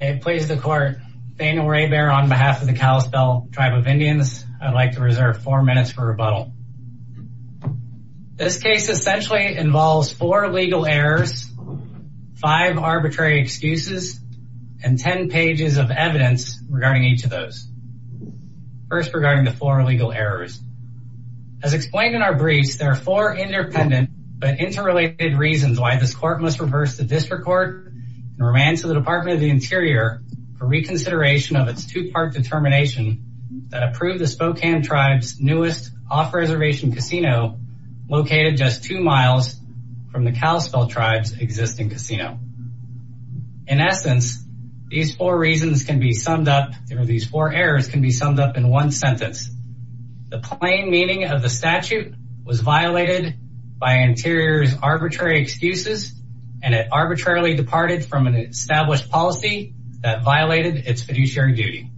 It please the court, Daniel Raybier on behalf of the Kalispel Tribe of Indians, I'd like to reserve four minutes for rebuttal. This case essentially involves four legal errors, five arbitrary excuses, and ten pages of evidence regarding each of those. First, regarding the four legal errors. As explained in our briefs, there are four independent but interrelated reasons why this court must reverse the district court and remain to the Department of the Interior for reconsideration of its two-part determination that approved the Spokane Tribe's newest off-reservation casino located just two miles from the Kalispel Tribe's existing casino. In essence, these four reasons can be summed up, or these four errors can be summed up in one sentence. The plain meaning of the statute was violated by Interior's arbitrary excuses, and it arbitrarily departed from an established policy that violated its fiduciary duty.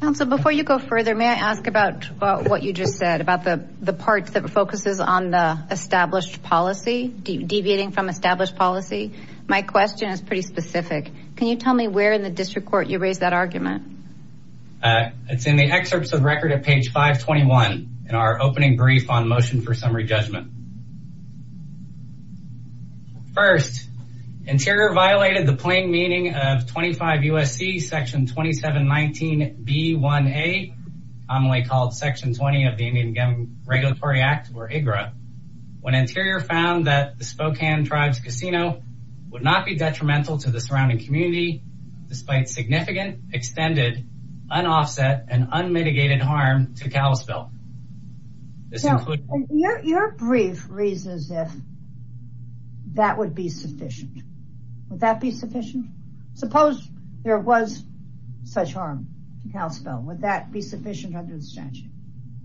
Counsel, before you go further, may I ask about what you just said, about the part that focuses on the established policy, deviating from established policy? My question is pretty specific. Can you tell me where in the district court you raised that argument? It's in the excerpts of record at page 521 in our opening brief on motion for summary judgment. First, Interior violated the plain meaning of 25 U.S.C. section 2719b1a, commonly called section 20 of the Indian Regulatory Act, or IGRA, when Interior found that the Spokane Tribe's casino would not be detrimental to the surrounding community despite significant, extended, unoffset, and unmitigated harm to Kalispel. Your brief reads as if that would be sufficient. Would that be sufficient? Suppose there was such harm to Kalispel. Would that be sufficient under the statute?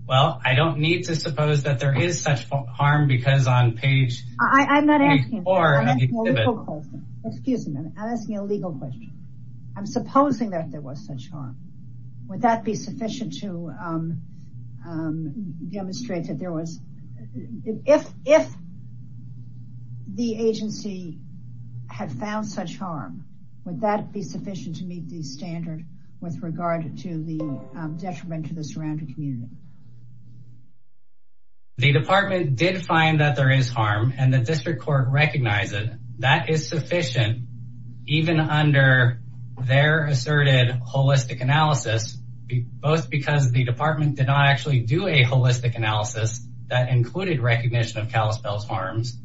Well, I don't need to suppose that there is such harm because on page... I'm not asking you. I'm asking a legal question. I'm supposing that there was such harm. Would that be sufficient to demonstrate that there was... If the agency had found such harm, would that be sufficient to meet the standard with regard to the detriment to the surrounding community? The department did find that there is harm and the district court recognized it. That is sufficient even under their asserted holistic analysis, both because the department did not actually do a holistic analysis that included recognition of Kalispel's harms,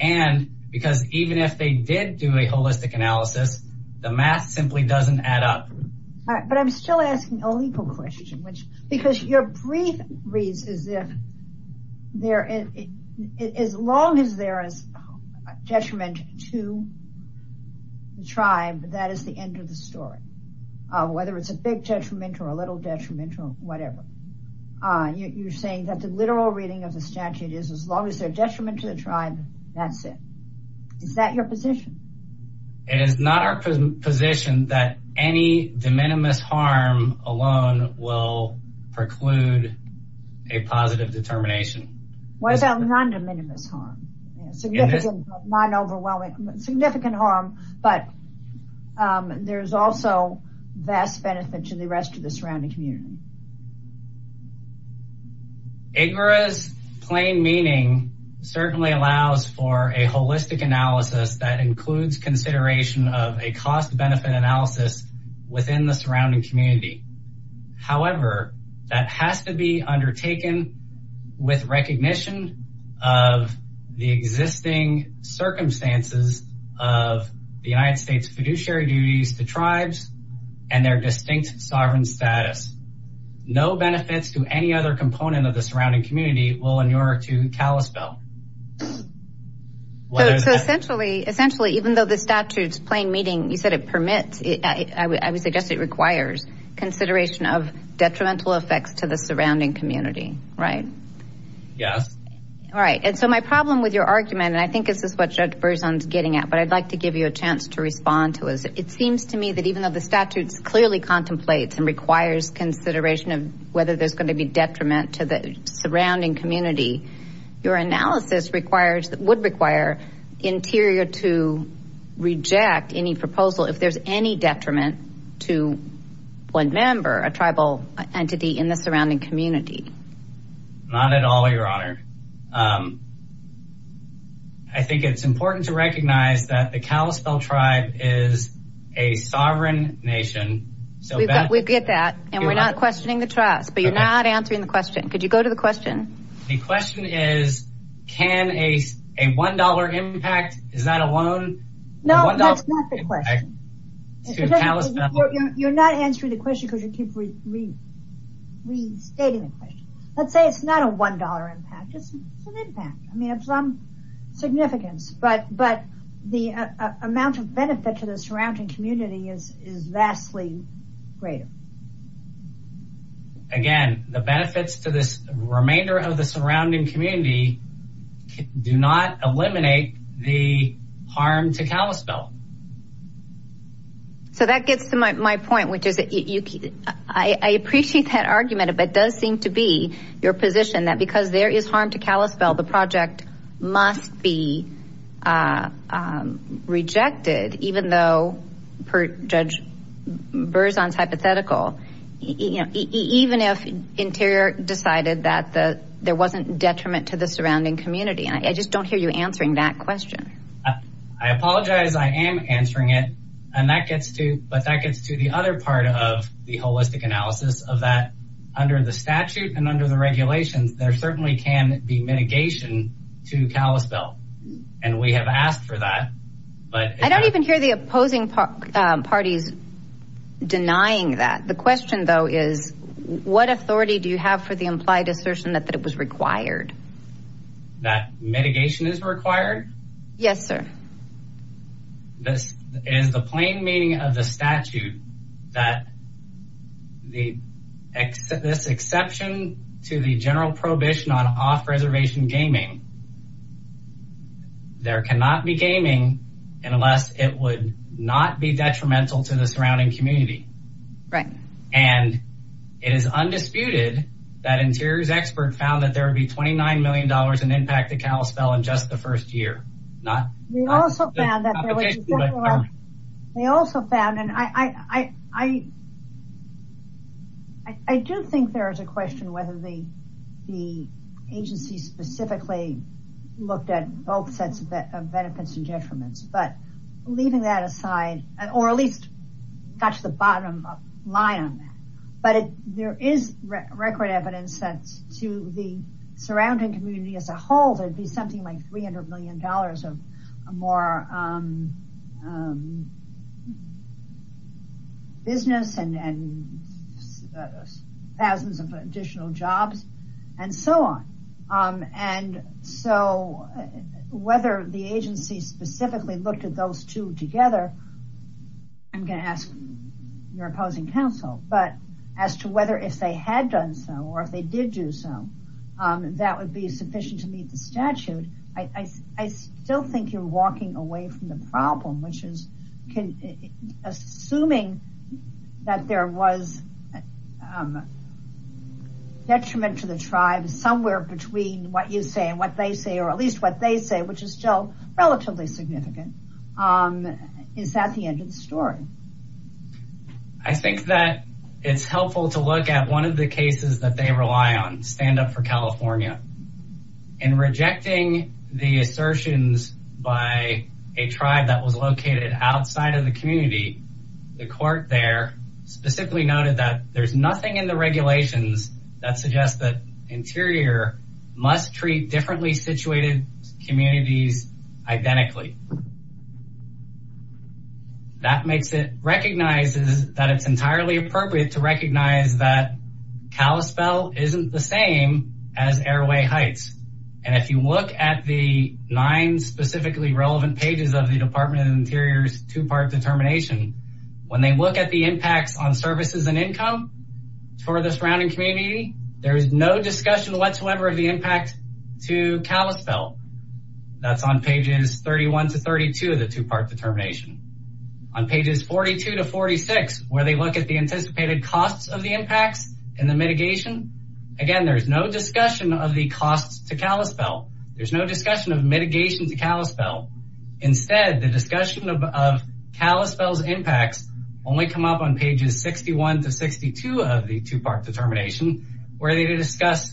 and because even if they did do a holistic analysis, the math simply doesn't add up. But I'm still asking a legal question, because your brief reads as if there... As long as there is detriment to the tribe, that is the end of the story, whether it's a big detriment or a little detriment or whatever. You're saying that the literal reading of the statute is as long as there's detriment to the tribe, that's it. Is that your position? It is not our position that any de minimis harm alone will preclude a positive determination. What is a non-de minimis harm? Significant, non-overwhelming, significant harm, but there's also vast benefit to the rest of the surrounding community. IGGRA's plain meaning certainly allows for a holistic analysis that includes consideration of a cost benefit analysis within the surrounding community. However, that has to be undertaken with recognition of the existing circumstances of the United States fiduciary duties to tribes and their distinct sovereign status. No benefits to any other component of the surrounding community will inure to Kalispel. Essentially, even though the statute's plain meaning, you said it permits, I would suggest it requires consideration of detrimental effects to the surrounding community, right? Yes. All right, and so my problem with your argument, and I think this is what Judge Berzon's getting at, but I'd like to give you a chance to respond to us. It seems to me that even though the statute clearly contemplates and requires consideration of whether there's going to be detriment to the surrounding community, your analysis would require Interior to reject any proposal if there's any detriment to one member, a tribal entity in the surrounding community. Not at all, your honor. I think it's important to recognize that the Kalispel tribe is a sovereign nation. We get that and we're not questioning the trust, but you're not answering the question. Could you go $1 impact, is that a loan? No, that's not the question. You're not answering the question because you keep restating the question. Let's say it's not a $1 impact, it's an impact. I mean, of some significance, but the amount of benefit to the surrounding community is vastly greater. Again, the benefits to this remainder of the surrounding community do not eliminate the harm to Kalispel. So that gets to my point, which is that I appreciate that argument, but it does seem to be your position that because there is harm to Kalispel, the project must be rejected, even though, per Judge Berzon's hypothetical, even if Interior decided that there wasn't detriment to the surrounding community. I just don't hear you answering that question. I apologize, I am answering it, but that gets to the other part of the holistic analysis of that. Under the statute and under the regulations, there certainly can be mitigation to Kalispel, and we have asked for that. I don't even hear the opposing parties denying that. The question, though, is what authority do you have for the implied assertion that it was required? That mitigation is required? Yes, sir. This is the plain meaning of the statute that this exception to the general prohibition on off-reservation gaming, there cannot be gaming unless it would not be detrimental to the surrounding community. It is undisputed that Interior's expert found that there would be $29 million in impact to Kalispel in just the first year. They also found, and I do think there is a question whether the agency specifically looked at both sets of benefits and detriments, but leaving that aside, or at least touch the bottom line on that, but there is record evidence that to the surrounding community as a whole, there would be something like $300 million of more business and thousands of additional jobs and so on. Whether the agency specifically looked at those two together, I'm going to ask your opposing counsel, but as to whether if they had done so or if they did do so, that would be sufficient to still think you're walking away from the problem, which is assuming that there was detriment to the tribe somewhere between what you say and what they say, or at least what they say, which is still relatively significant. Is that the end of the story? I think that it's helpful to look at one of the cases that they rely on, Stand Up for California. In rejecting the assertions by a tribe that was located outside of the community, the court there specifically noted that there's nothing in the regulations that suggests that Interior must treat differently situated communities identically. That makes it recognized that it's entirely appropriate to recognize that heights. And if you look at the nine specifically relevant pages of the Department of Interior's two-part determination, when they look at the impacts on services and income for the surrounding community, there is no discussion whatsoever of the impact to Kalispell. That's on pages 31 to 32 of the two-part determination. On pages 42 to 46, where they look at the anticipated costs of the impacts and the mitigation. Again, there's no discussion of the costs to Kalispell. There's no discussion of mitigation to Kalispell. Instead, the discussion of Kalispell's impacts only come up on pages 61 to 62 of the two-part determination, where they discuss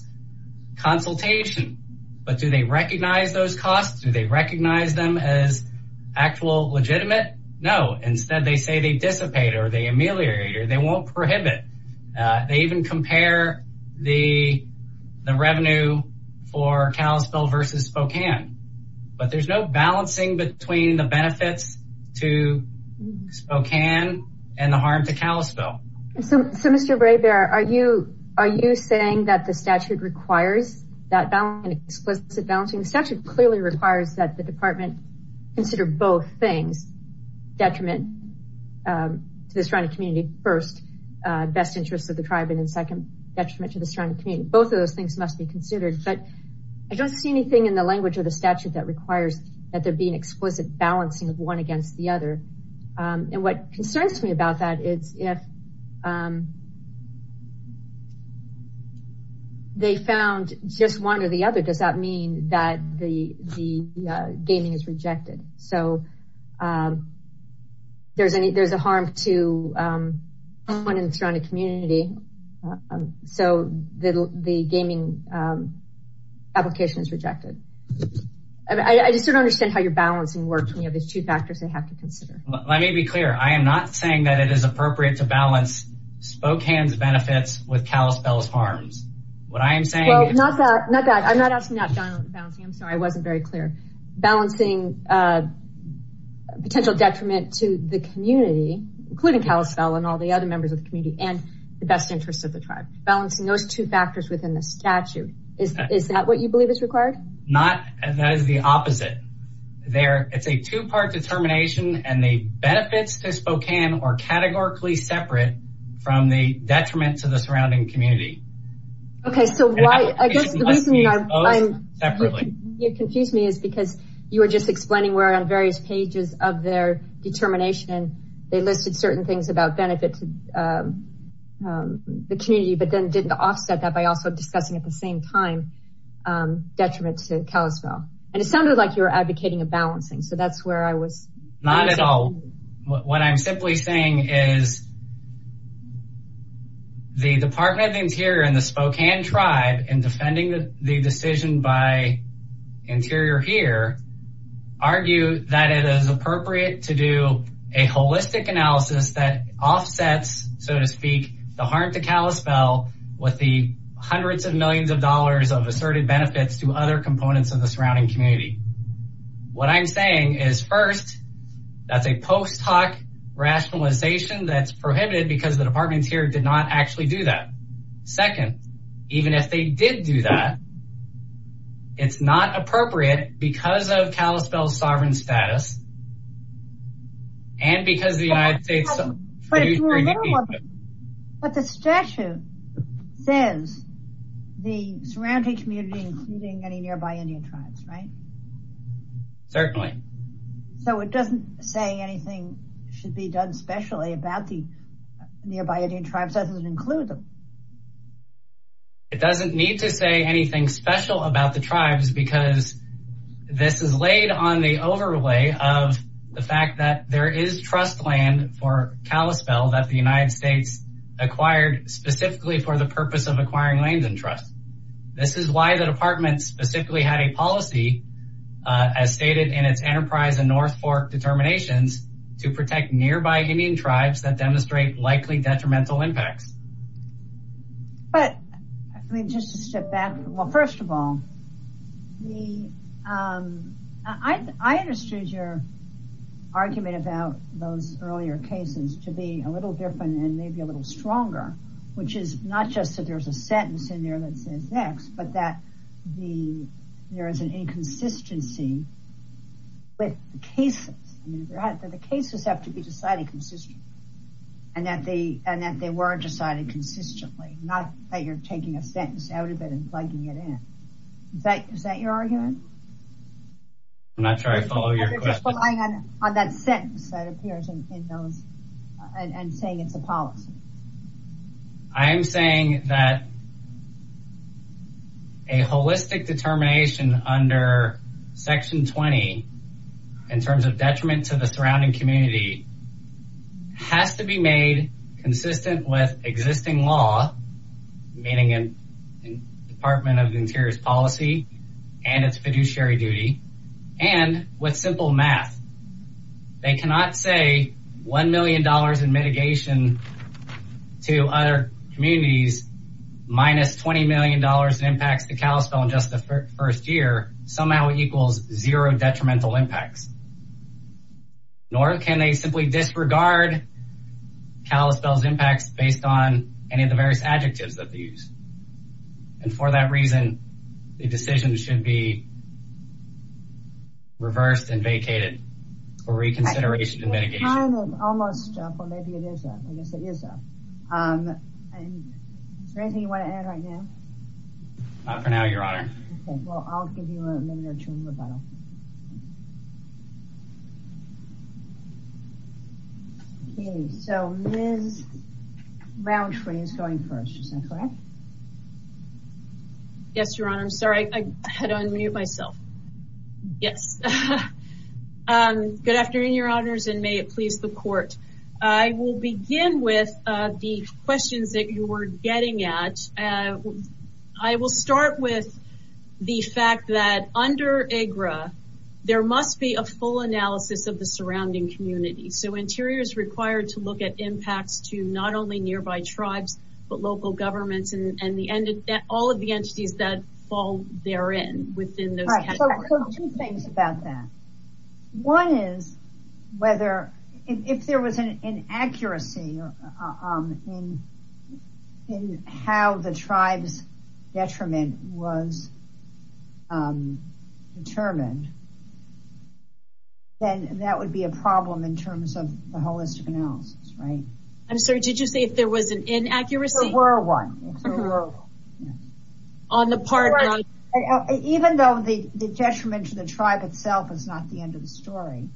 consultation. But do they recognize those costs? Do they recognize them as actual legitimate? No. Instead, they say they dissipate, or they ameliorate, they won't prohibit. They even compare the revenue for Kalispell versus Spokane. But there's no balancing between the benefits to Spokane and the harm to Kalispell. So, Mr. Braybear, are you saying that the statute requires that explicit balancing? The statute clearly requires that the department consider both things detriment to the surrounding community first, best interests of the tribe, and then second detriment to the surrounding community. Both of those things must be considered. But I don't see anything in the language of the statute that requires that there be an explicit balancing of one against the other. And what concerns me about that is if they found just one or the other, does that mean that the gaming is rejected? There's a harm to someone in the surrounding community, so the gaming application is rejected. I just don't understand how your balancing works. There's two factors they have to consider. Let me be clear. I am not saying that it is appropriate to balance Spokane's benefits with Kalispell's harms. What I am saying is... Well, not that. I'm not asking about balancing. I'm including Kalispell and all the other members of the community and the best interests of the tribe. Balancing those two factors within the statute, is that what you believe is required? Not. That is the opposite. It's a two-part determination, and the benefits to Spokane are categorically separate from the detriment to the surrounding community. Okay, so I guess the reason you confused me is because you were just explaining we're on pages of their determination. They listed certain things about benefit to the community, but then didn't offset that by also discussing at the same time detriment to Kalispell. It sounded like you were advocating a balancing, so that's where I was. Not at all. What I'm simply saying is the Department of the Interior and the Spokane tribe, in defending the decision by Interior here, argue that it is appropriate to do a holistic analysis that offsets, so to speak, the harm to Kalispell with the hundreds of millions of dollars of asserted benefits to other components of the surrounding community. What I'm saying is first, that's a post hoc rationalization that's prohibited because the departments here did actually do that. Second, even if they did do that, it's not appropriate because of Kalispell's sovereign status and because the United States... But the statute says the surrounding community, including any nearby Indian tribes, right? Certainly. So it doesn't say anything should about the nearby Indian tribes as it includes them. It doesn't need to say anything special about the tribes because this is laid on the overlay of the fact that there is trust land for Kalispell that the United States acquired specifically for the purpose of acquiring land and trust. This is why the department specifically had a policy as stated in its enterprise and North Fork determinations to protect nearby Indian tribes that demonstrate likely detrimental impacts. But I mean, just to step back. Well, first of all, I understood your argument about those earlier cases to be a little different and maybe a little stronger, which is not just that there's a sentence in there that says X, but that there is an inconsistency with the cases. The cases have to be decided consistently and that they were decided consistently, not that you're taking a sentence out of it and plugging it in. Is that your argument? I'm not sure I follow your question. I'm just relying on that sentence that appears in those and saying it's a policy. I am saying that a holistic determination under section 20 in terms of detriment to the surrounding community has to be made consistent with existing law, meaning in the Department of the Interior's policy and its fiduciary duty and with simple math. They cannot say $1 million in mitigation to other communities minus $20 million in impacts to Kalispell in just the first year somehow equals zero detrimental impacts. Nor can they simply disregard Kalispell's impacts based on any of the various adjectives that they use. And for that reason, the decision should be reversed and vacated for reconsideration and mitigation. We're kind of almost up, or maybe it is up. I guess it is up. Is there anything you want to add right now? Not for now, Your Honor. Okay, well I'll give you a minute or two in rebuttal. Okay, so Ms. Rountree is going first. Is that correct? Yes, Your Honor. I'm sorry. I had unmuted myself. Yes. Good afternoon, Your Honors, and may it please the Court. I will begin with the questions that you were getting at. I will start with the fact that under AGRA, there must be a full analysis of the surrounding community. So Interior is required to look at impacts to not only nearby tribes, but local governments and all of the entities that fall within those categories. So two things about that. One is, if there was an inaccuracy in how the tribe's detriment was determined, then that would be a problem in terms of the holistic analysis, right? I'm sorry, did you say if there was an inaccuracy? If there were one. Even though the detriment to the tribe itself is not the end of the story,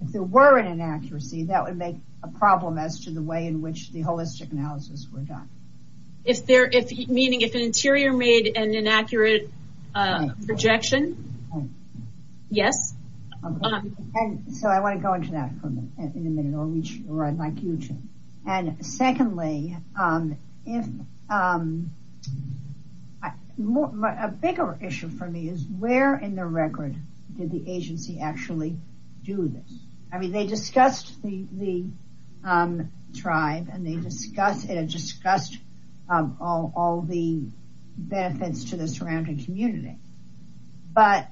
if there were an inaccuracy, that would make a problem as to the way in which the holistic analysis were done. Meaning if an Interior made an inaccurate projection? Yes. Okay. So I want to go into that in a minute, or I'd like you to. And secondly, a bigger issue for me is where in the record did the agency actually do this? I mean, they discussed the tribe, and they discussed all the benefits to the surrounding community. But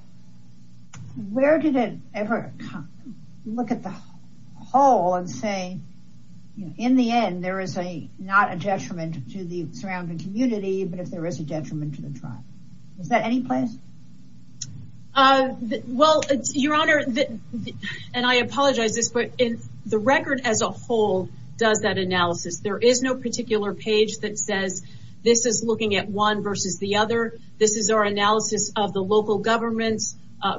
where did it ever look at the whole and say, in the end, there is not a detriment to the surrounding community, but if there is a detriment to the tribe. Is that any place? Well, Your Honor, and I apologize, but the record as a whole does that analysis. There is no page that says this is looking at one versus the other. This is our analysis of the local governments,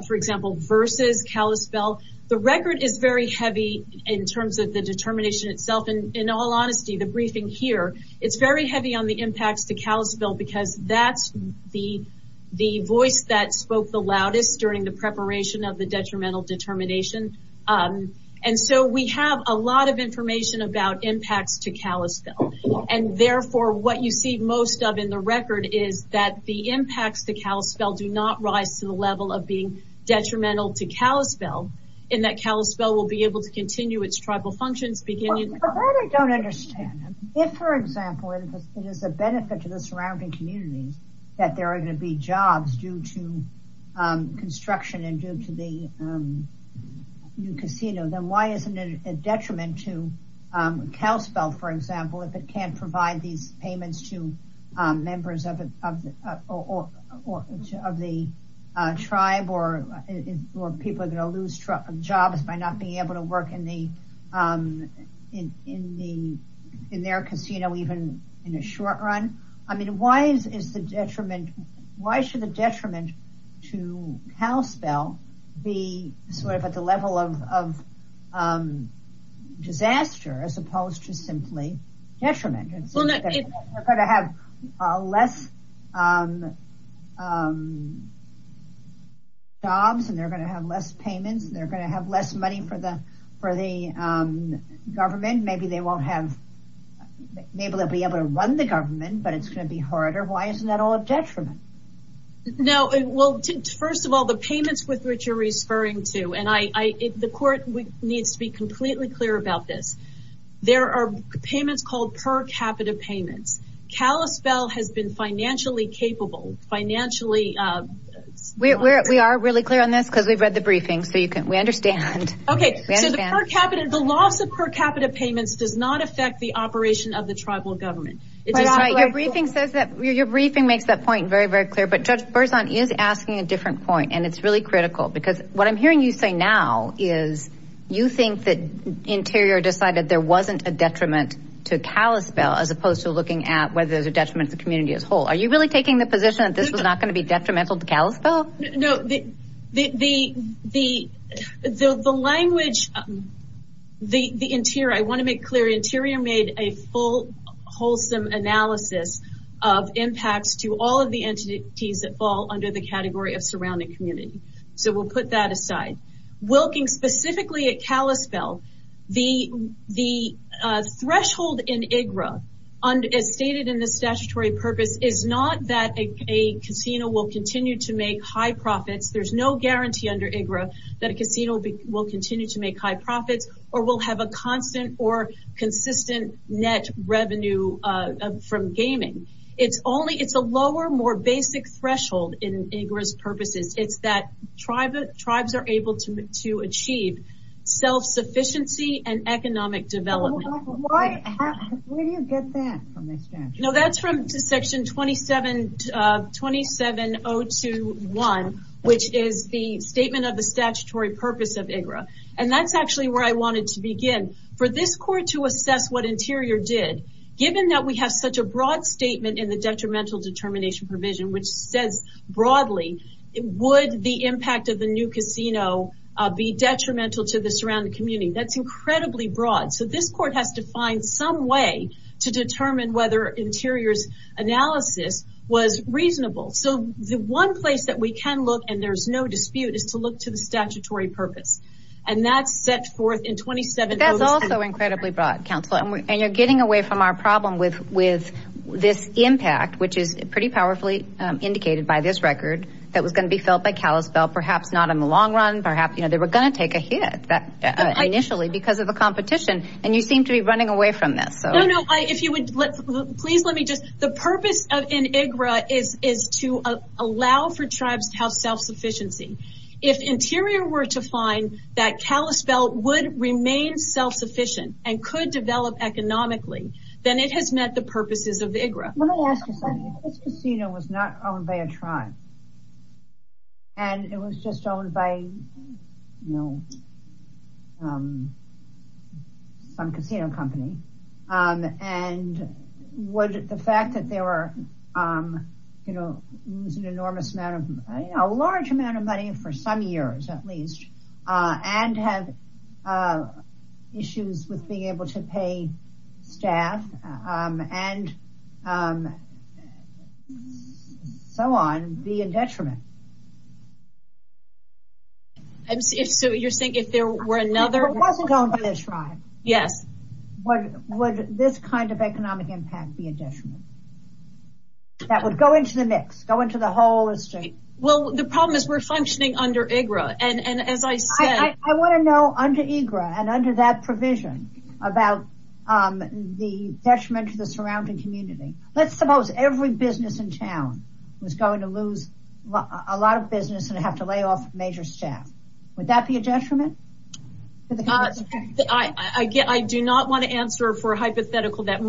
for example, versus Kalispell. The record is very heavy in terms of the determination itself. In all honesty, the briefing here, it's very heavy on the impacts to Kalispell because that's the voice that spoke the loudest during the preparation of the detrimental determination. And so we have a lot of information about impacts to Kalispell. And therefore, what you see most of in the record is that the impacts to Kalispell do not rise to the level of being detrimental to Kalispell, and that Kalispell will be able to continue its tribal functions. But I don't understand. If, for example, it is a benefit to the surrounding communities that there are going to be jobs due to construction and due to the new casino, then why isn't it a detriment to Kalispell, for example, if it can't provide these payments to members of the tribe or people are going to lose jobs by not being able to work in their casino, even in the short run? I mean, why should the detriment to Kalispell be sort of at the level of a disaster as opposed to simply detriment? They're going to have less jobs and they're going to have less payments. They're going to have less money for the government. Maybe they won't be able to run the government, but it's going to be harder. Why isn't that all a detriment? No. Well, first of all, the payments with which you're referring to, the court needs to be completely clear about this. There are payments called per capita payments. Kalispell has been financially capable. We are really clear on this because we've read the briefing, so we understand. The loss of per capita payments does not affect the operation of the tribal government. Your briefing makes that point very, very clear, but Judge Berzon is asking a different point and it's really critical because what I'm hearing you say now is you think that Interior decided there wasn't a detriment to Kalispell as opposed to looking at whether there's a detriment to the community as a whole. Are you really taking the position that this was not going to be detrimental to Kalispell? No. The language, the Interior, I want to make under the category of surrounding community, so we'll put that aside. Wilking specifically at Kalispell, the threshold in IGRA, as stated in the statutory purpose, is not that a casino will continue to make high profits. There's no guarantee under IGRA that a casino will continue to make high profits or will have a constant or consistent net revenue from gaming. It's a lower, more basic threshold in IGRA's purposes. It's that tribes are able to achieve self-sufficiency and economic development. Where do you get that from the statute? That's from Section 27021, which is the statement of the statutory purpose of IGRA. That's actually where I wanted to begin. For this court to assess what Interior did, given that we have such a broad statement in the detrimental determination provision, which says broadly, would the impact of the new casino be detrimental to the surrounding community? That's incredibly broad. This court has to find some way to determine whether Interior's analysis was reasonable. The one place that we can look, there's no dispute, is to look to the statutory purpose. That's set forth in 27. That's also incredibly broad, Counselor. You're getting away from our problem with this impact, which is pretty powerfully indicated by this record, that was going to be felt by Kalispell. Perhaps not in the long run. Perhaps they were going to take a hit initially because of the competition. You seem to be running away from this. If you would, please let me just, the purpose in IGRA is to allow for tribes to have self-sufficiency. If Interior were to find that Kalispell would remain self-sufficient and could develop economically, then it has met the purposes of IGRA. Let me ask you something. This casino was not owned by a tribe. It was just owned by some casino company. Would the fact that they were losing a large amount of money, for some years at least, and have issues with being able to pay staff and so on, be a detriment? You're saying if there were another... If it wasn't owned by a tribe, would this kind of economic impact be a detriment? That would go into the mix, go into the whole estate. Well, the problem is we're functioning under IGRA, and as I said... I want to know under IGRA and under that provision about the detriment to the surrounding community. Let's suppose every business in town was going to lose a lot of business and have to lay off major staff. Would that be a detriment? I do not want to answer for a hypothetical that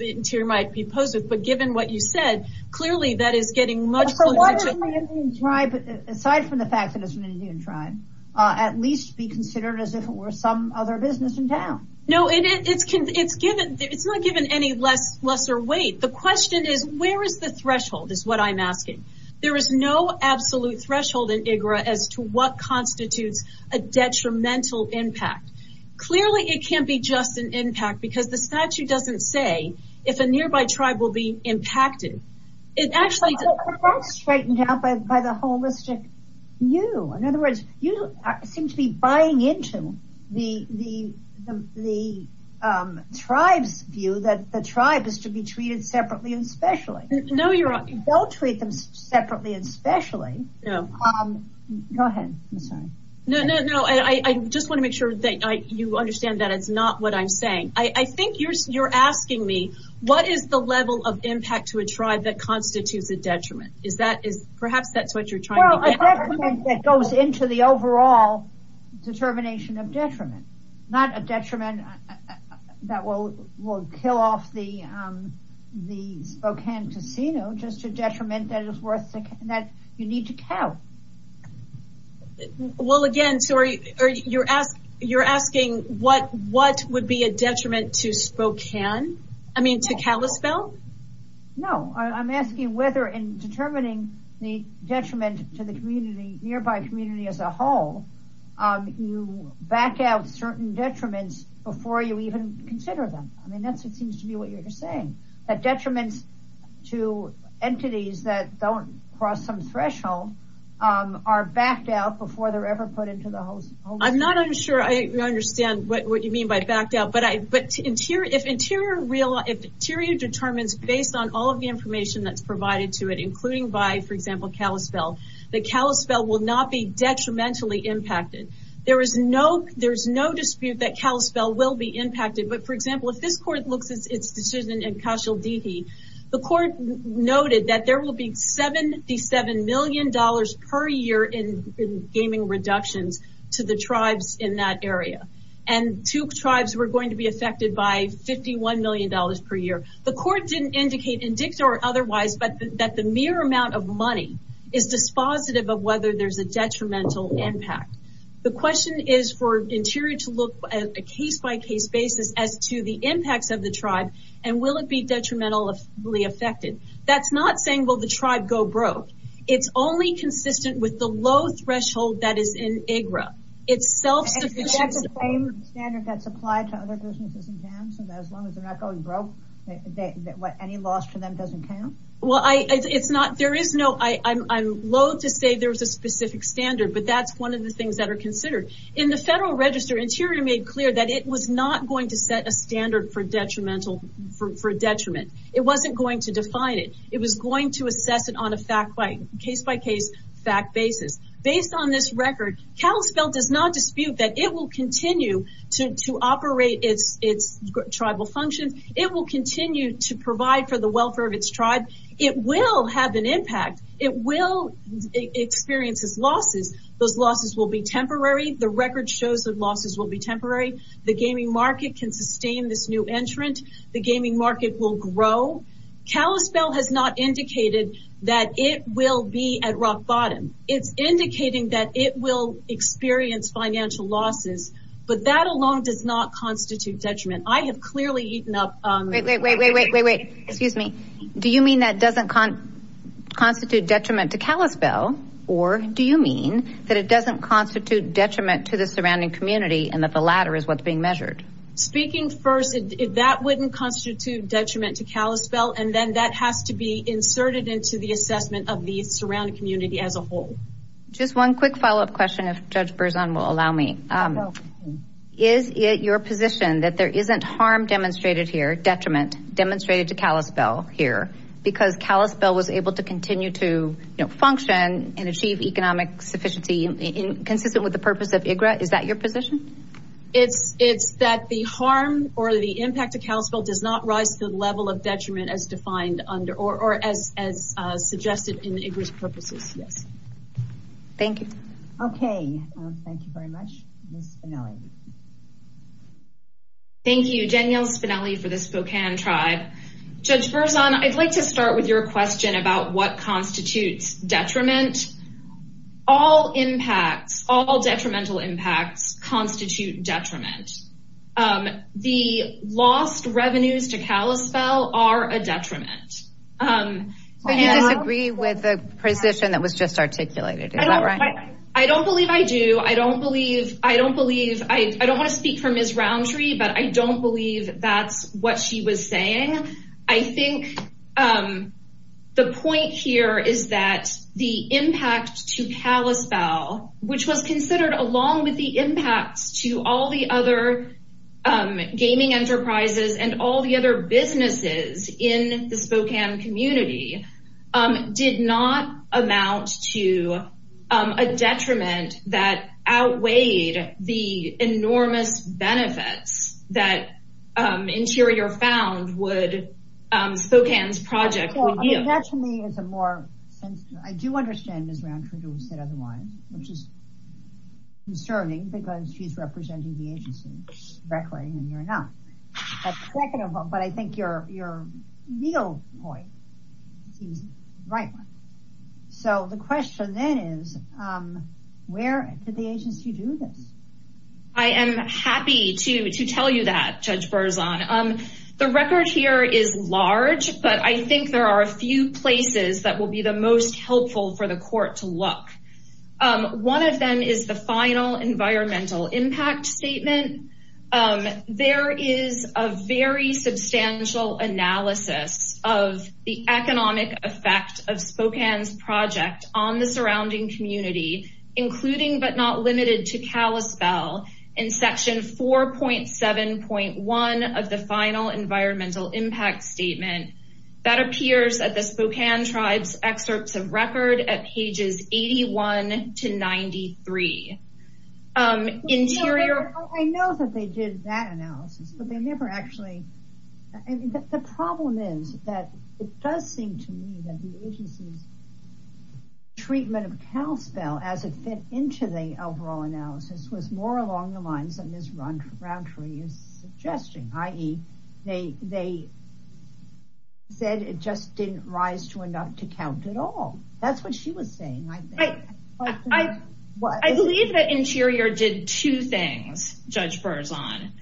Interior might be opposed to, but given what you said, clearly that is getting much closer to... Aside from the fact that it's an Indian tribe, at least be considered as if it were some other business in town. No, it's not given any lesser weight. The question is, where is the threshold, is what I'm asking. There is no absolute threshold in IGRA as to what constitutes a detrimental impact. Clearly, it can't be just an impact because the statute doesn't say if a nearby tribe will be impacted. It's actually straightened out by the holistic view. In other words, you seem to be buying into the tribe's view that the tribe is to be treated separately and specially. No, you're... Don't treat them separately and specially. Go ahead, I'm sorry. No, I just want to make sure that you understand that it's not what I'm saying. I think you're asking me, what is the level of impact to a tribe that constitutes a detriment? Perhaps that's what you're trying to... Well, a detriment that goes into the overall determination of detriment. Not a detriment that will kill off the Spokane casino, just a detriment that you need to count. Well, again, you're asking what would be a detriment to Spokane? I mean, to Kalispell? No, I'm asking whether in determining the detriment to the nearby community as a whole, you back out certain detriments before you even consider them. I mean, that's what seems to be what you're saying. That detriments to entities that don't cross some threshold are backed out before they're ever put into the whole... I'm not sure I understand what you mean by backed out. But if interior determines based on all of the information that's provided to it, including by, for example, Kalispell, that Kalispell will not be detrimentally impacted. There is no dispute that Kalispell will be impacted. But for example, if this court looks at its decision in Cachalditi, the court noted that there will be $77 million per year in gaming reductions to the tribes in that area. And two tribes were going to be affected by $51 million per year. The court didn't indicate, in dicta or otherwise, that the mere amount of money is dispositive of whether there's a detrimental impact. The question is for interior to look at a case-by-case basis as to the impacts of the tribe and will it be detrimentally affected. That's not saying, well, the tribe go broke. It's only consistent with the low threshold that is in IGRA. It's self-sufficient... Is that the same standard that's applied to other businesses in Jamson? As long as they're not going broke, any loss for them doesn't count? There is no... I'm loathe to say there's a specific standard, but that's one of the things that are considered. In the federal register, interior made clear that it was not going to set a standard for detriment. It wasn't going to define it. It was going to assess it on a case-by-case fact basis. Based on this record, Kalispell does not dispute that it will continue to operate its tribal functions. It will continue to provide for the welfare of its tribe. It will have an impact. It will experience its losses. Those losses will be temporary. The record shows that losses will be temporary. The gaming market can sustain this new entrant. The gaming market will grow. Kalispell has not indicated that it will be at rock bottom. It's indicating that it will experience financial losses, but that alone does not constitute detriment. I have clearly eaten up... Wait, wait, wait, wait, wait, wait. Excuse me. Do you mean that doesn't constitute detriment to Kalispell, or do you mean that it doesn't constitute detriment to the surrounding community and that the latter is what's being measured? Speaking first, that wouldn't constitute detriment to Kalispell, and then that has to be inserted into the assessment of the surrounding community as a whole. Just one quick follow-up question, if Judge Berzon will allow me. Is it your position that there isn't harm demonstrated here, detriment demonstrated to Kalispell, because Kalispell was able to continue to function and achieve economic sufficiency consistent with the purpose of IGRA? Is that your position? It's that the harm or the impact of Kalispell does not rise to the level of detriment as suggested in IGRA's purposes, yes. Thank you. Okay, thank you very much, Ms. Spinelli. Thank you, Danielle Spinelli for the Spokane Tribe. Judge Berzon, I'd like to start with your question about what constitutes detriment. All impacts, all detrimental impacts constitute detriment. The lost revenues to Kalispell are a detriment. So you disagree with the position that was just articulated, is that right? I don't believe I do. I don't want to speak for Ms. Roundtree, but I don't believe that's what she was saying. I think the point here is that the impact to Kalispell, which was considered along with the impact to all the other gaming enterprises and all the other businesses in the Spokane community, did not amount to a detriment that outweighed the enormous benefits that Interior found would Spokane's project would yield. That to me is a more sensitive, I do understand Ms. Roundtree who said otherwise, which is concerning because she's representing the agency directly and you're not. But I think your legal point is the right one. So the question then is, where did the agency do this? I am happy to tell you that, Judge Berzon. The record here is large, but I think there are a few places that will be the most helpful for the court to look. One of them is the final environmental impact statement. There is a very substantial analysis of the economic effect of Spokane's project on the surrounding community, including but not limited to Kalispell in section 4.7.1 of the final environmental impact statement that appears at the Spokane Tribe's excerpts of record at pages 81 to 93. I know that they did that analysis, but they never actually... The problem is that it does seem to me that the agency's treatment of Kalispell as it fit into the overall analysis was more along the lines that Ms. Roundtree is suggesting, i.e. they said it just didn't rise to enough to count at all. That's what she was saying, I think. I believe that Interior did two things, Judge Berzon.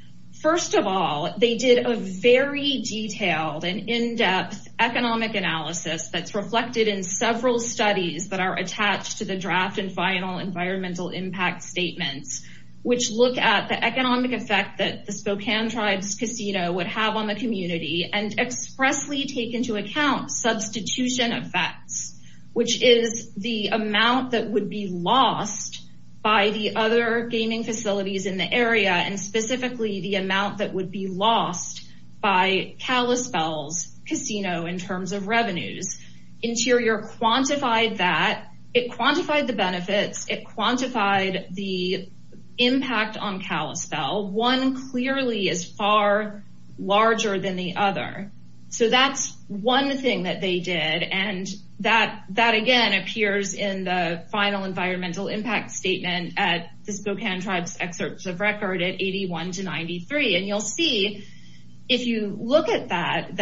First of all, they did a very detailed and in-depth economic analysis that's reflected in several studies that are attached to the draft and final environmental impact statements, which look at the economic effect that the Spokane Tribe's casino would have on the community and expressly take into account substitution effects, which is the amount that would be lost by the other gaming facilities in the area and specifically the amount that would be lost by Kalispell's casino in terms of revenues. Interior quantified that. It quantified the benefits. It quantified the impact on Kalispell. One clearly is far larger than the other. So that's one thing that they did, and that again appears in the final environmental impact statement at the Spokane Tribe's excerpts of record. 81 to 93. And you'll see, if you look at that,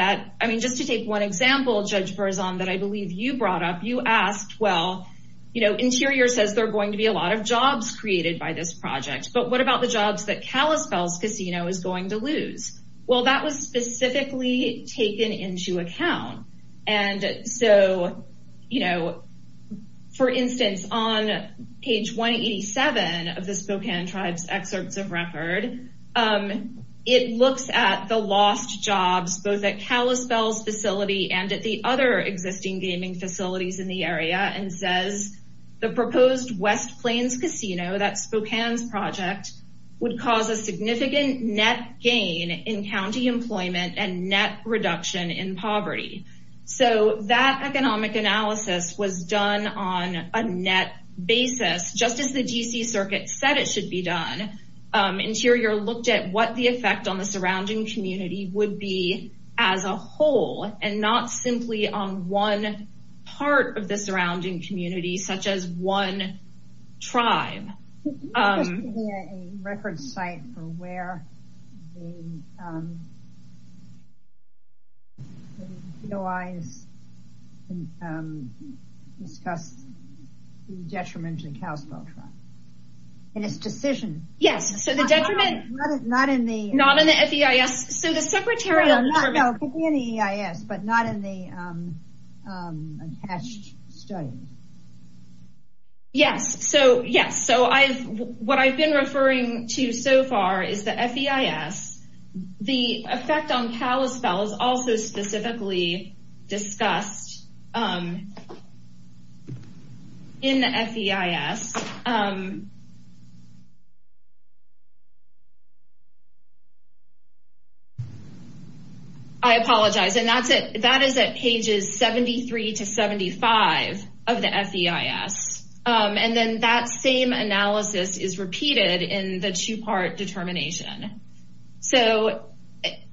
just to take one example, Judge Berzon, that I believe you brought up, you asked, well, Interior says there are going to be a lot of jobs created by this project, but what about the jobs that Kalispell's casino is going to lose? Well, that was specifically taken into account. And so, you know, for instance, on page 187 of the Spokane Tribe's excerpts of record, it looks at the lost jobs, both at Kalispell's facility and at the other existing gaming facilities in the area, and says the proposed West Plains Casino, that's Spokane's project, would cause a significant net gain in county employment and net reduction in poverty. So that economic analysis was done on a net basis, just as the D.C. Circuit said it should be done. Interior looked at what the effect on the surrounding community would be as a whole, and not simply on one part of the surrounding community, such as one tribe. Could this be a record site for where the DOIs discuss the detriment to the Kalispell Tribe? In its decision? Yes, so the detriment... Not in the... Not in the FEIS. So the secretarial... No, it could be in the EIS, but not in the attached study. Yes, so yes, so what I've been referring to so far is the FEIS. The effect on Kalispell is also specifically discussed in the FEIS. I apologize, and that is at pages 73 to 75 of the FEIS. And then that same analysis is repeated in the two-part determination. So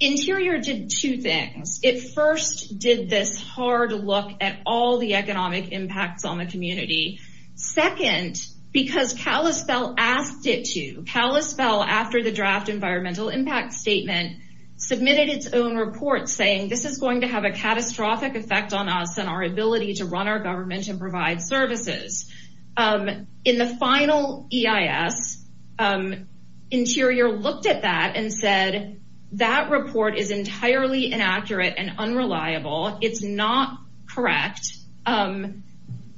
Interior did two things. It first did this hard look at all the economic impacts on the community. Second, because Kalispell asked it to. Kalispell, after the draft environmental impact statement, submitted its own report saying this is going to have a catastrophic effect on us and our ability to run our government and provide services. In the final EIS, Interior looked at that and said, that report is entirely inaccurate and unreliable. It's not correct. Um,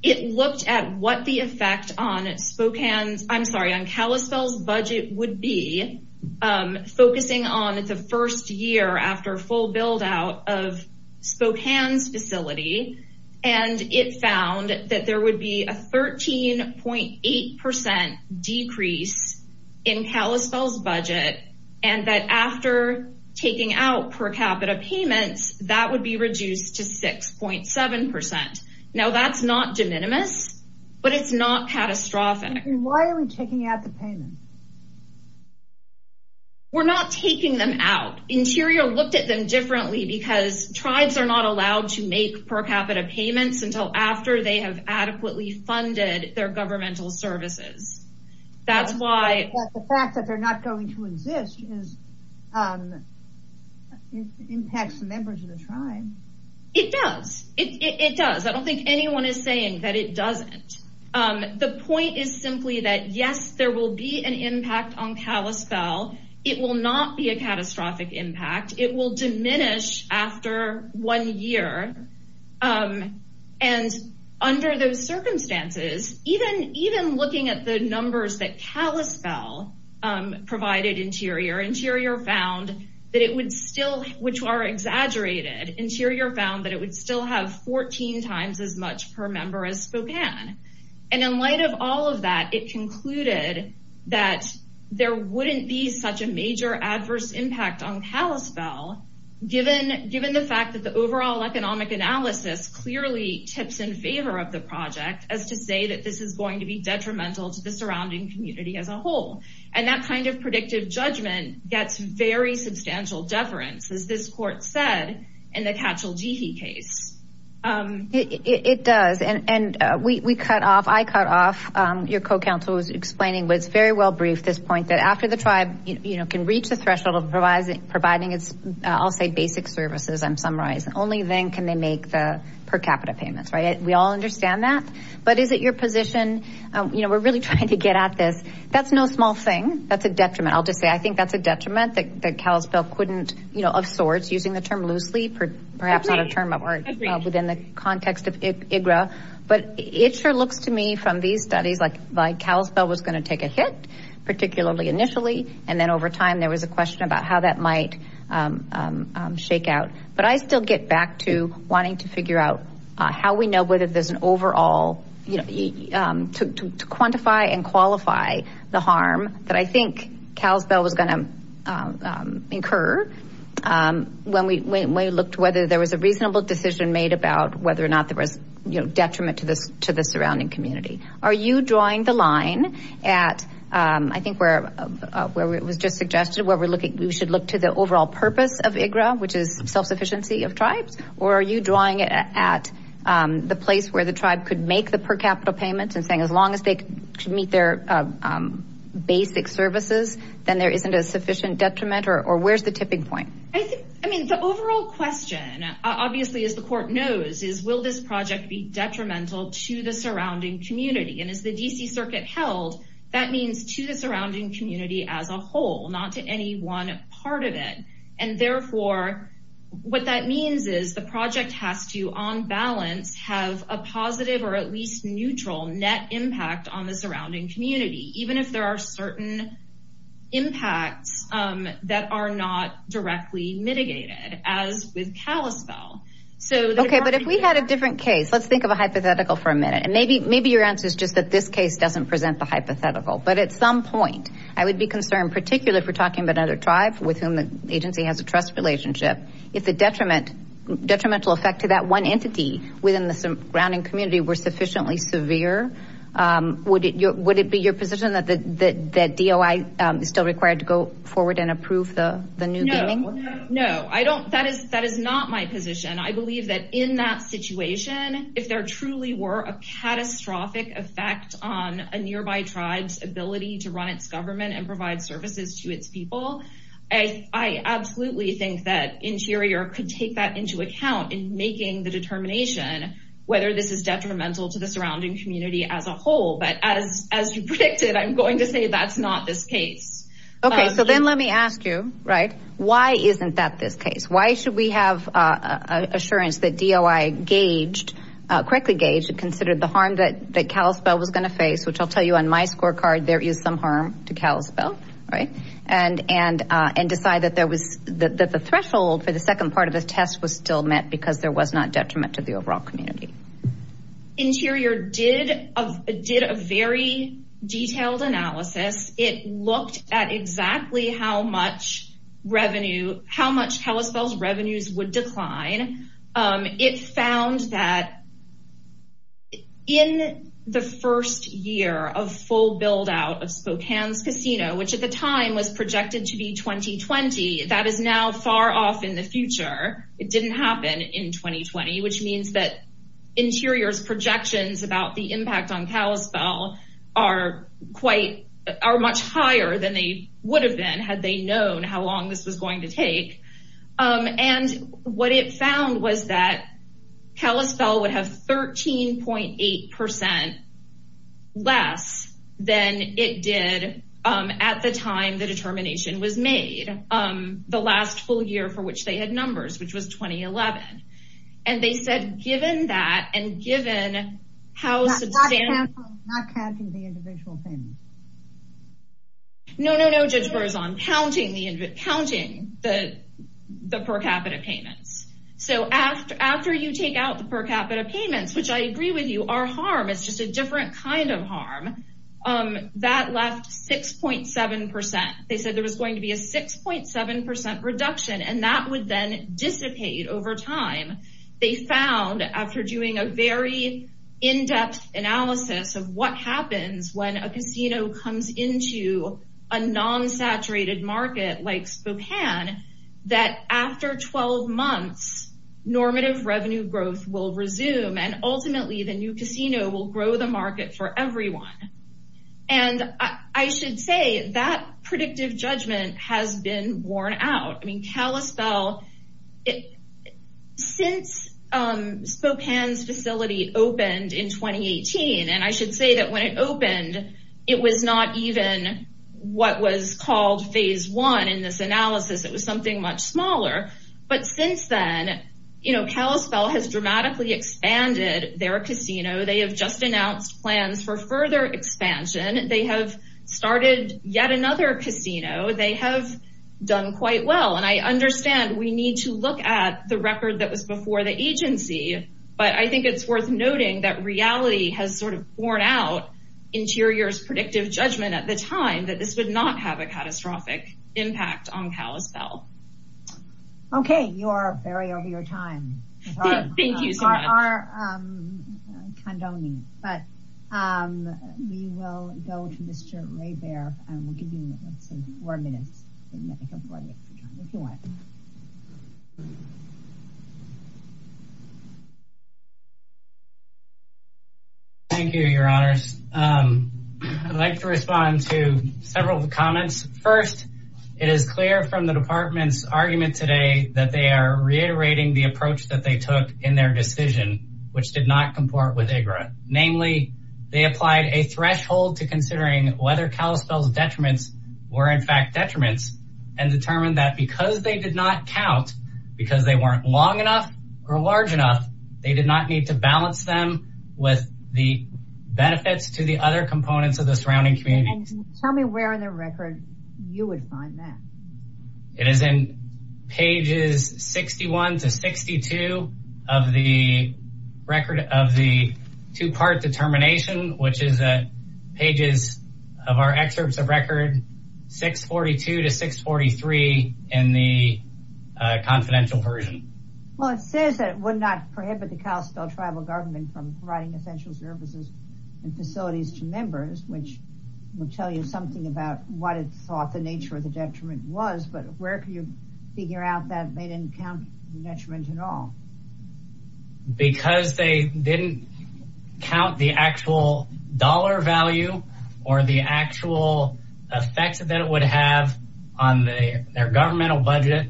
it looked at what the effect on Spokane's... I'm sorry, on Kalispell's budget would be, focusing on the first year after full build-out of Spokane's facility. And it found that there would be a 13.8% decrease in Kalispell's budget. And that after taking out per capita payments, that would be reduced to 6.7%. Now that's not de minimis, but it's not catastrophic. Why are we taking out the payments? We're not taking them out. Interior looked at them differently because tribes are not allowed to make per capita payments until after they have adequately funded their governmental services. That's why... It impacts the members of the tribe. It does. It does. I don't think anyone is saying that it doesn't. The point is simply that, yes, there will be an impact on Kalispell. It will not be a catastrophic impact. It will diminish after one year. And under those circumstances, even looking at the numbers that Kalispell provided Interior, Interior found that it would still... Which are exaggerated. Interior found that it would still have 14 times as much per member as Spokane. And in light of all of that, it concluded that there wouldn't be such a major adverse impact on Kalispell given the fact that the overall economic analysis clearly tips in favor of the project as to say that this is going to be detrimental to the surrounding community as a whole. And that kind of predictive judgment gets very substantial deference, as this court said in the Cachaljeehe case. It does. And we cut off, I cut off, your co-counsel was explaining what's very well briefed this point that after the tribe can reach the threshold of providing its, I'll say, basic services, I'm summarizing, only then can they make the per capita payments, right? We all understand that. But is it your position? We're really trying to get at this. That's no small thing. That's a detriment. I'll just say, I think that's a detriment that Kalispell couldn't, of sorts, using the term loosely, perhaps not a term within the context of IGRA. But it sure looks to me from these studies like Kalispell was going to take a hit, particularly initially. And then over time, there was a question about how that might shake out. But I still get back to wanting to figure out how we know whether there's an overall to quantify and qualify the harm that I think Kalispell was going to incur when we looked whether there was a reasonable decision made about whether or not there was, you know, detriment to the surrounding community. Are you drawing the line at, I think, where it was just suggested where we should look to the overall purpose of IGRA, which is self-sufficiency of tribes? Or are you drawing it at the place where the tribe could make the per capita payment and as long as they could meet their basic services, then there isn't a sufficient detriment? Or where's the tipping point? I think, I mean, the overall question, obviously, as the court knows, is will this project be detrimental to the surrounding community? And as the D.C. Circuit held, that means to the surrounding community as a whole, not to any one part of it. And therefore, what that means is the project has to, on balance, have a positive or at impact on the surrounding community, even if there are certain impacts that are not directly mitigated, as with Kalispell. Okay, but if we had a different case, let's think of a hypothetical for a minute. And maybe your answer is just that this case doesn't present the hypothetical. But at some point, I would be concerned, particularly if we're talking about another tribe with whom the agency has a trust relationship, if the detrimental effect to that one entity within the surrounding community were sufficiently severe, would it be your position that DOI is still required to go forward and approve the new gaming? No, no. I don't, that is not my position. I believe that in that situation, if there truly were a catastrophic effect on a nearby tribe's ability to run its government and provide services to its people, I absolutely think that Interior could take that into account in making the determination whether this is detrimental to the surrounding community as a whole. But as you predicted, I'm going to say that's not this case. Okay, so then let me ask you, right, why isn't that this case? Why should we have assurance that DOI gauged, correctly gauged, considered the harm that Kalispell was going to face, which I'll tell you on my scorecard, there is some harm to the surrounding community, but the threshold for the second part of the test was still met because there was not detriment to the overall community. Interior did a very detailed analysis. It looked at exactly how much revenue, how much Kalispell's revenues would decline. It found that in the first year of full build-out of Spokane's casino, which at the time was 2020, that is now far off in the future. It didn't happen in 2020, which means that Interior's projections about the impact on Kalispell are much higher than they would have been had they known how long this was going to take. And what it found was that Kalispell would have 13.8 percent less than it did at the time the determination was made, the last full year for which they had numbers, which was 2011. And they said, given that, and given how substantial... Not counting the individual payments. No, no, no, Judge Berzon. Counting the per capita payments. So after you take out the per capita payments, which I agree with you are harm, it's just different kind of harm, that left 6.7 percent. They said there was going to be a 6.7 percent reduction and that would then dissipate over time. They found, after doing a very in-depth analysis of what happens when a casino comes into a non-saturated market like Spokane, that after 12 months, normative revenue growth will resume and ultimately the new casino will grow the market for everyone. And I should say that predictive judgment has been worn out. I mean, Kalispell, since Spokane's facility opened in 2018, and I should say that when it opened, it was not even what was called phase one in this analysis. It was something much smaller. But since then, Kalispell has dramatically expanded their casino. They have just announced plans for further expansion. They have started yet another casino. They have done quite well. And I understand we need to look at the record that was before the agency, but I think it's worth noting that reality has sort of worn out Interior's predictive judgment at the time that this would not have a catastrophic impact on Kalispell. Okay. You are very over your time. Thank you so much. Our condoning. But we will go to Mr. Ray Baer and we'll give you some more minutes. Thank you, your honors. I'd like to respond to several of the comments. First, it is clear from the department's argument today that they are reiterating the approach that they took in their decision, which did not comport with IGRA. Namely, they applied a threshold to considering whether Kalispell's detriments were in fact detriments and determined that because they did not count because they weren't long enough or large enough, they did not need to balance them with the benefits to the other components of the surrounding communities. Tell me where in the record you would find that. It is in pages 61 to 62 of the record of the two-part determination, which is pages of our excerpts of record 642 to 643 in the confidential version. Well, it says that it would not prohibit the Kalispell tribal government from providing essential services and facilities to members, which would tell you something about what it thought the nature of the detriment was. But where can you figure out that they didn't count the detriment at all? Because they didn't count the actual dollar value or the actual effect that it would have on their governmental budget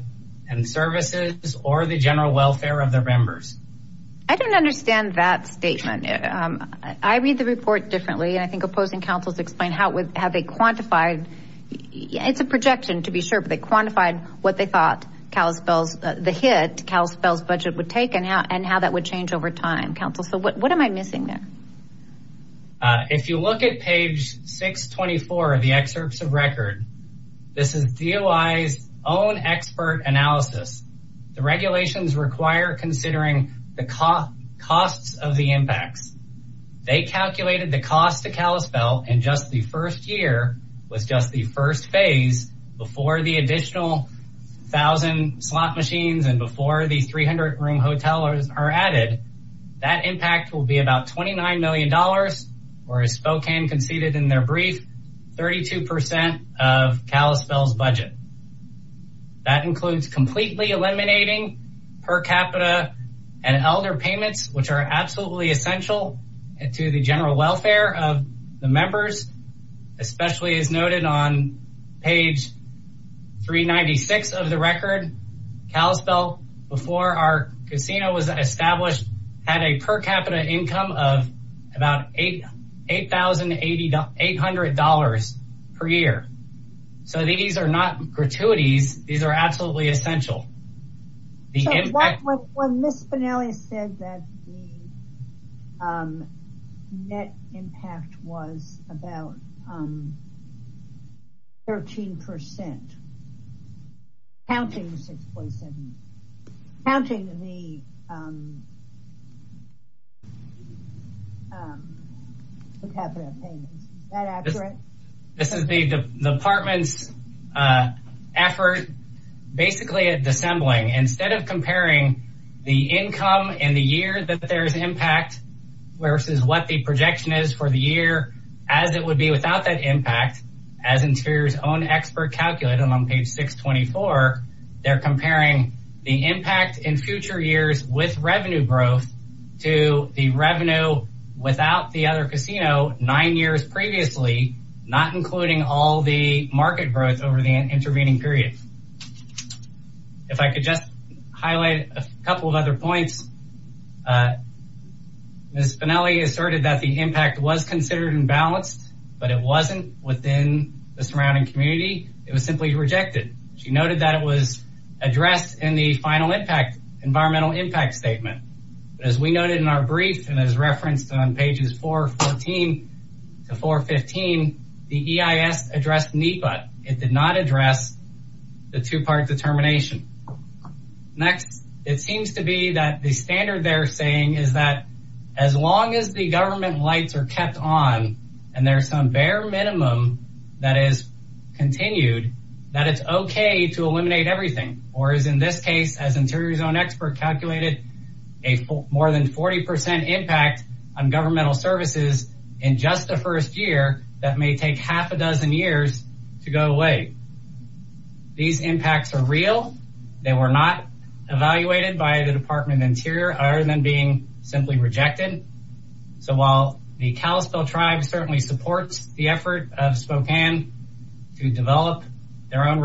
and services or the general welfare of their members. I don't understand that statement. I read the report differently, and I think opposing councils explain how they quantified. It's a projection, to be sure, but they quantified what they thought Kalispell's, the hit Kalispell's budget would take and how that would change over time. Council, so what am I missing there? If you look at page 624 of the excerpts of record, this is DOI's own expert analysis. The regulations require considering the costs of the impacts. They calculated the cost to Kalispell in just the first year was just the first phase before the additional thousand slot machines and before the 300 room hotels are added. That impact will be about $29 million, or as Spokane conceded in their brief, 32% of Kalispell's budget. That includes completely eliminating per capita and elder payments, which are absolutely essential to the general welfare of the members, especially as noted on page 396 of the record. Kalispell, before our casino was established, had a per capita income of about $8,800 per year. So these are not gratuities. These are absolutely essential. When Ms. Spinelli said that the net impact was about 13%, counting the per capita payments, is that accurate? This is the department's effort basically at dissembling. Instead of comparing the income and the year that there's impact versus what the projection is for the year as it would be without that impact, as Interior's own expert calculated on page 624, they're comparing the impact in future years with revenue growth to the revenue without the other casino nine years previously, not including all the market growth over the intervening period. If I could just highlight a couple of other points. Ms. Spinelli asserted that the impact was considered imbalanced, but it wasn't within the surrounding community. It was simply rejected. She noted that it was addressed in the final environmental impact statement. As we noted in our brief and as referenced on pages 414 to 415, the EIS addressed NEPA. It did not address the two-part determination. Next, it seems to be that the standard they're saying is that as long as the government lights are kept on and there's some bare minimum that is continued, that it's okay to eliminate everything or is in this case, as Interior's own expert calculated, a more than 40% impact on governmental services in just the first year that may take half a dozen years to go away. These impacts are real. They were not evaluated by the Department of Interior other than being simply rejected. So while the Kalispell tribe certainly supports the effort of Spokane to develop their own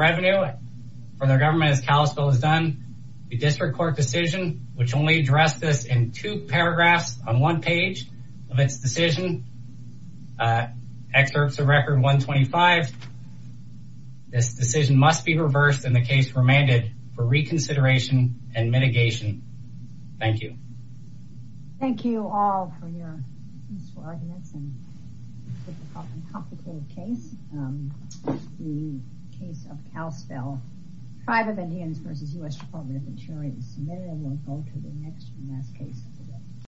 for their government, as Kalispell has done, the district court decision, which only addressed this in two paragraphs on one page of its decision, excerpts of record 125. This decision must be reversed in the case remanded for reconsideration and mitigation. Thank you. Thank you all for your arguments and complicated case. The case of Kalispell tribe of Indians versus U.S. Department of Interior will go to the next and last case.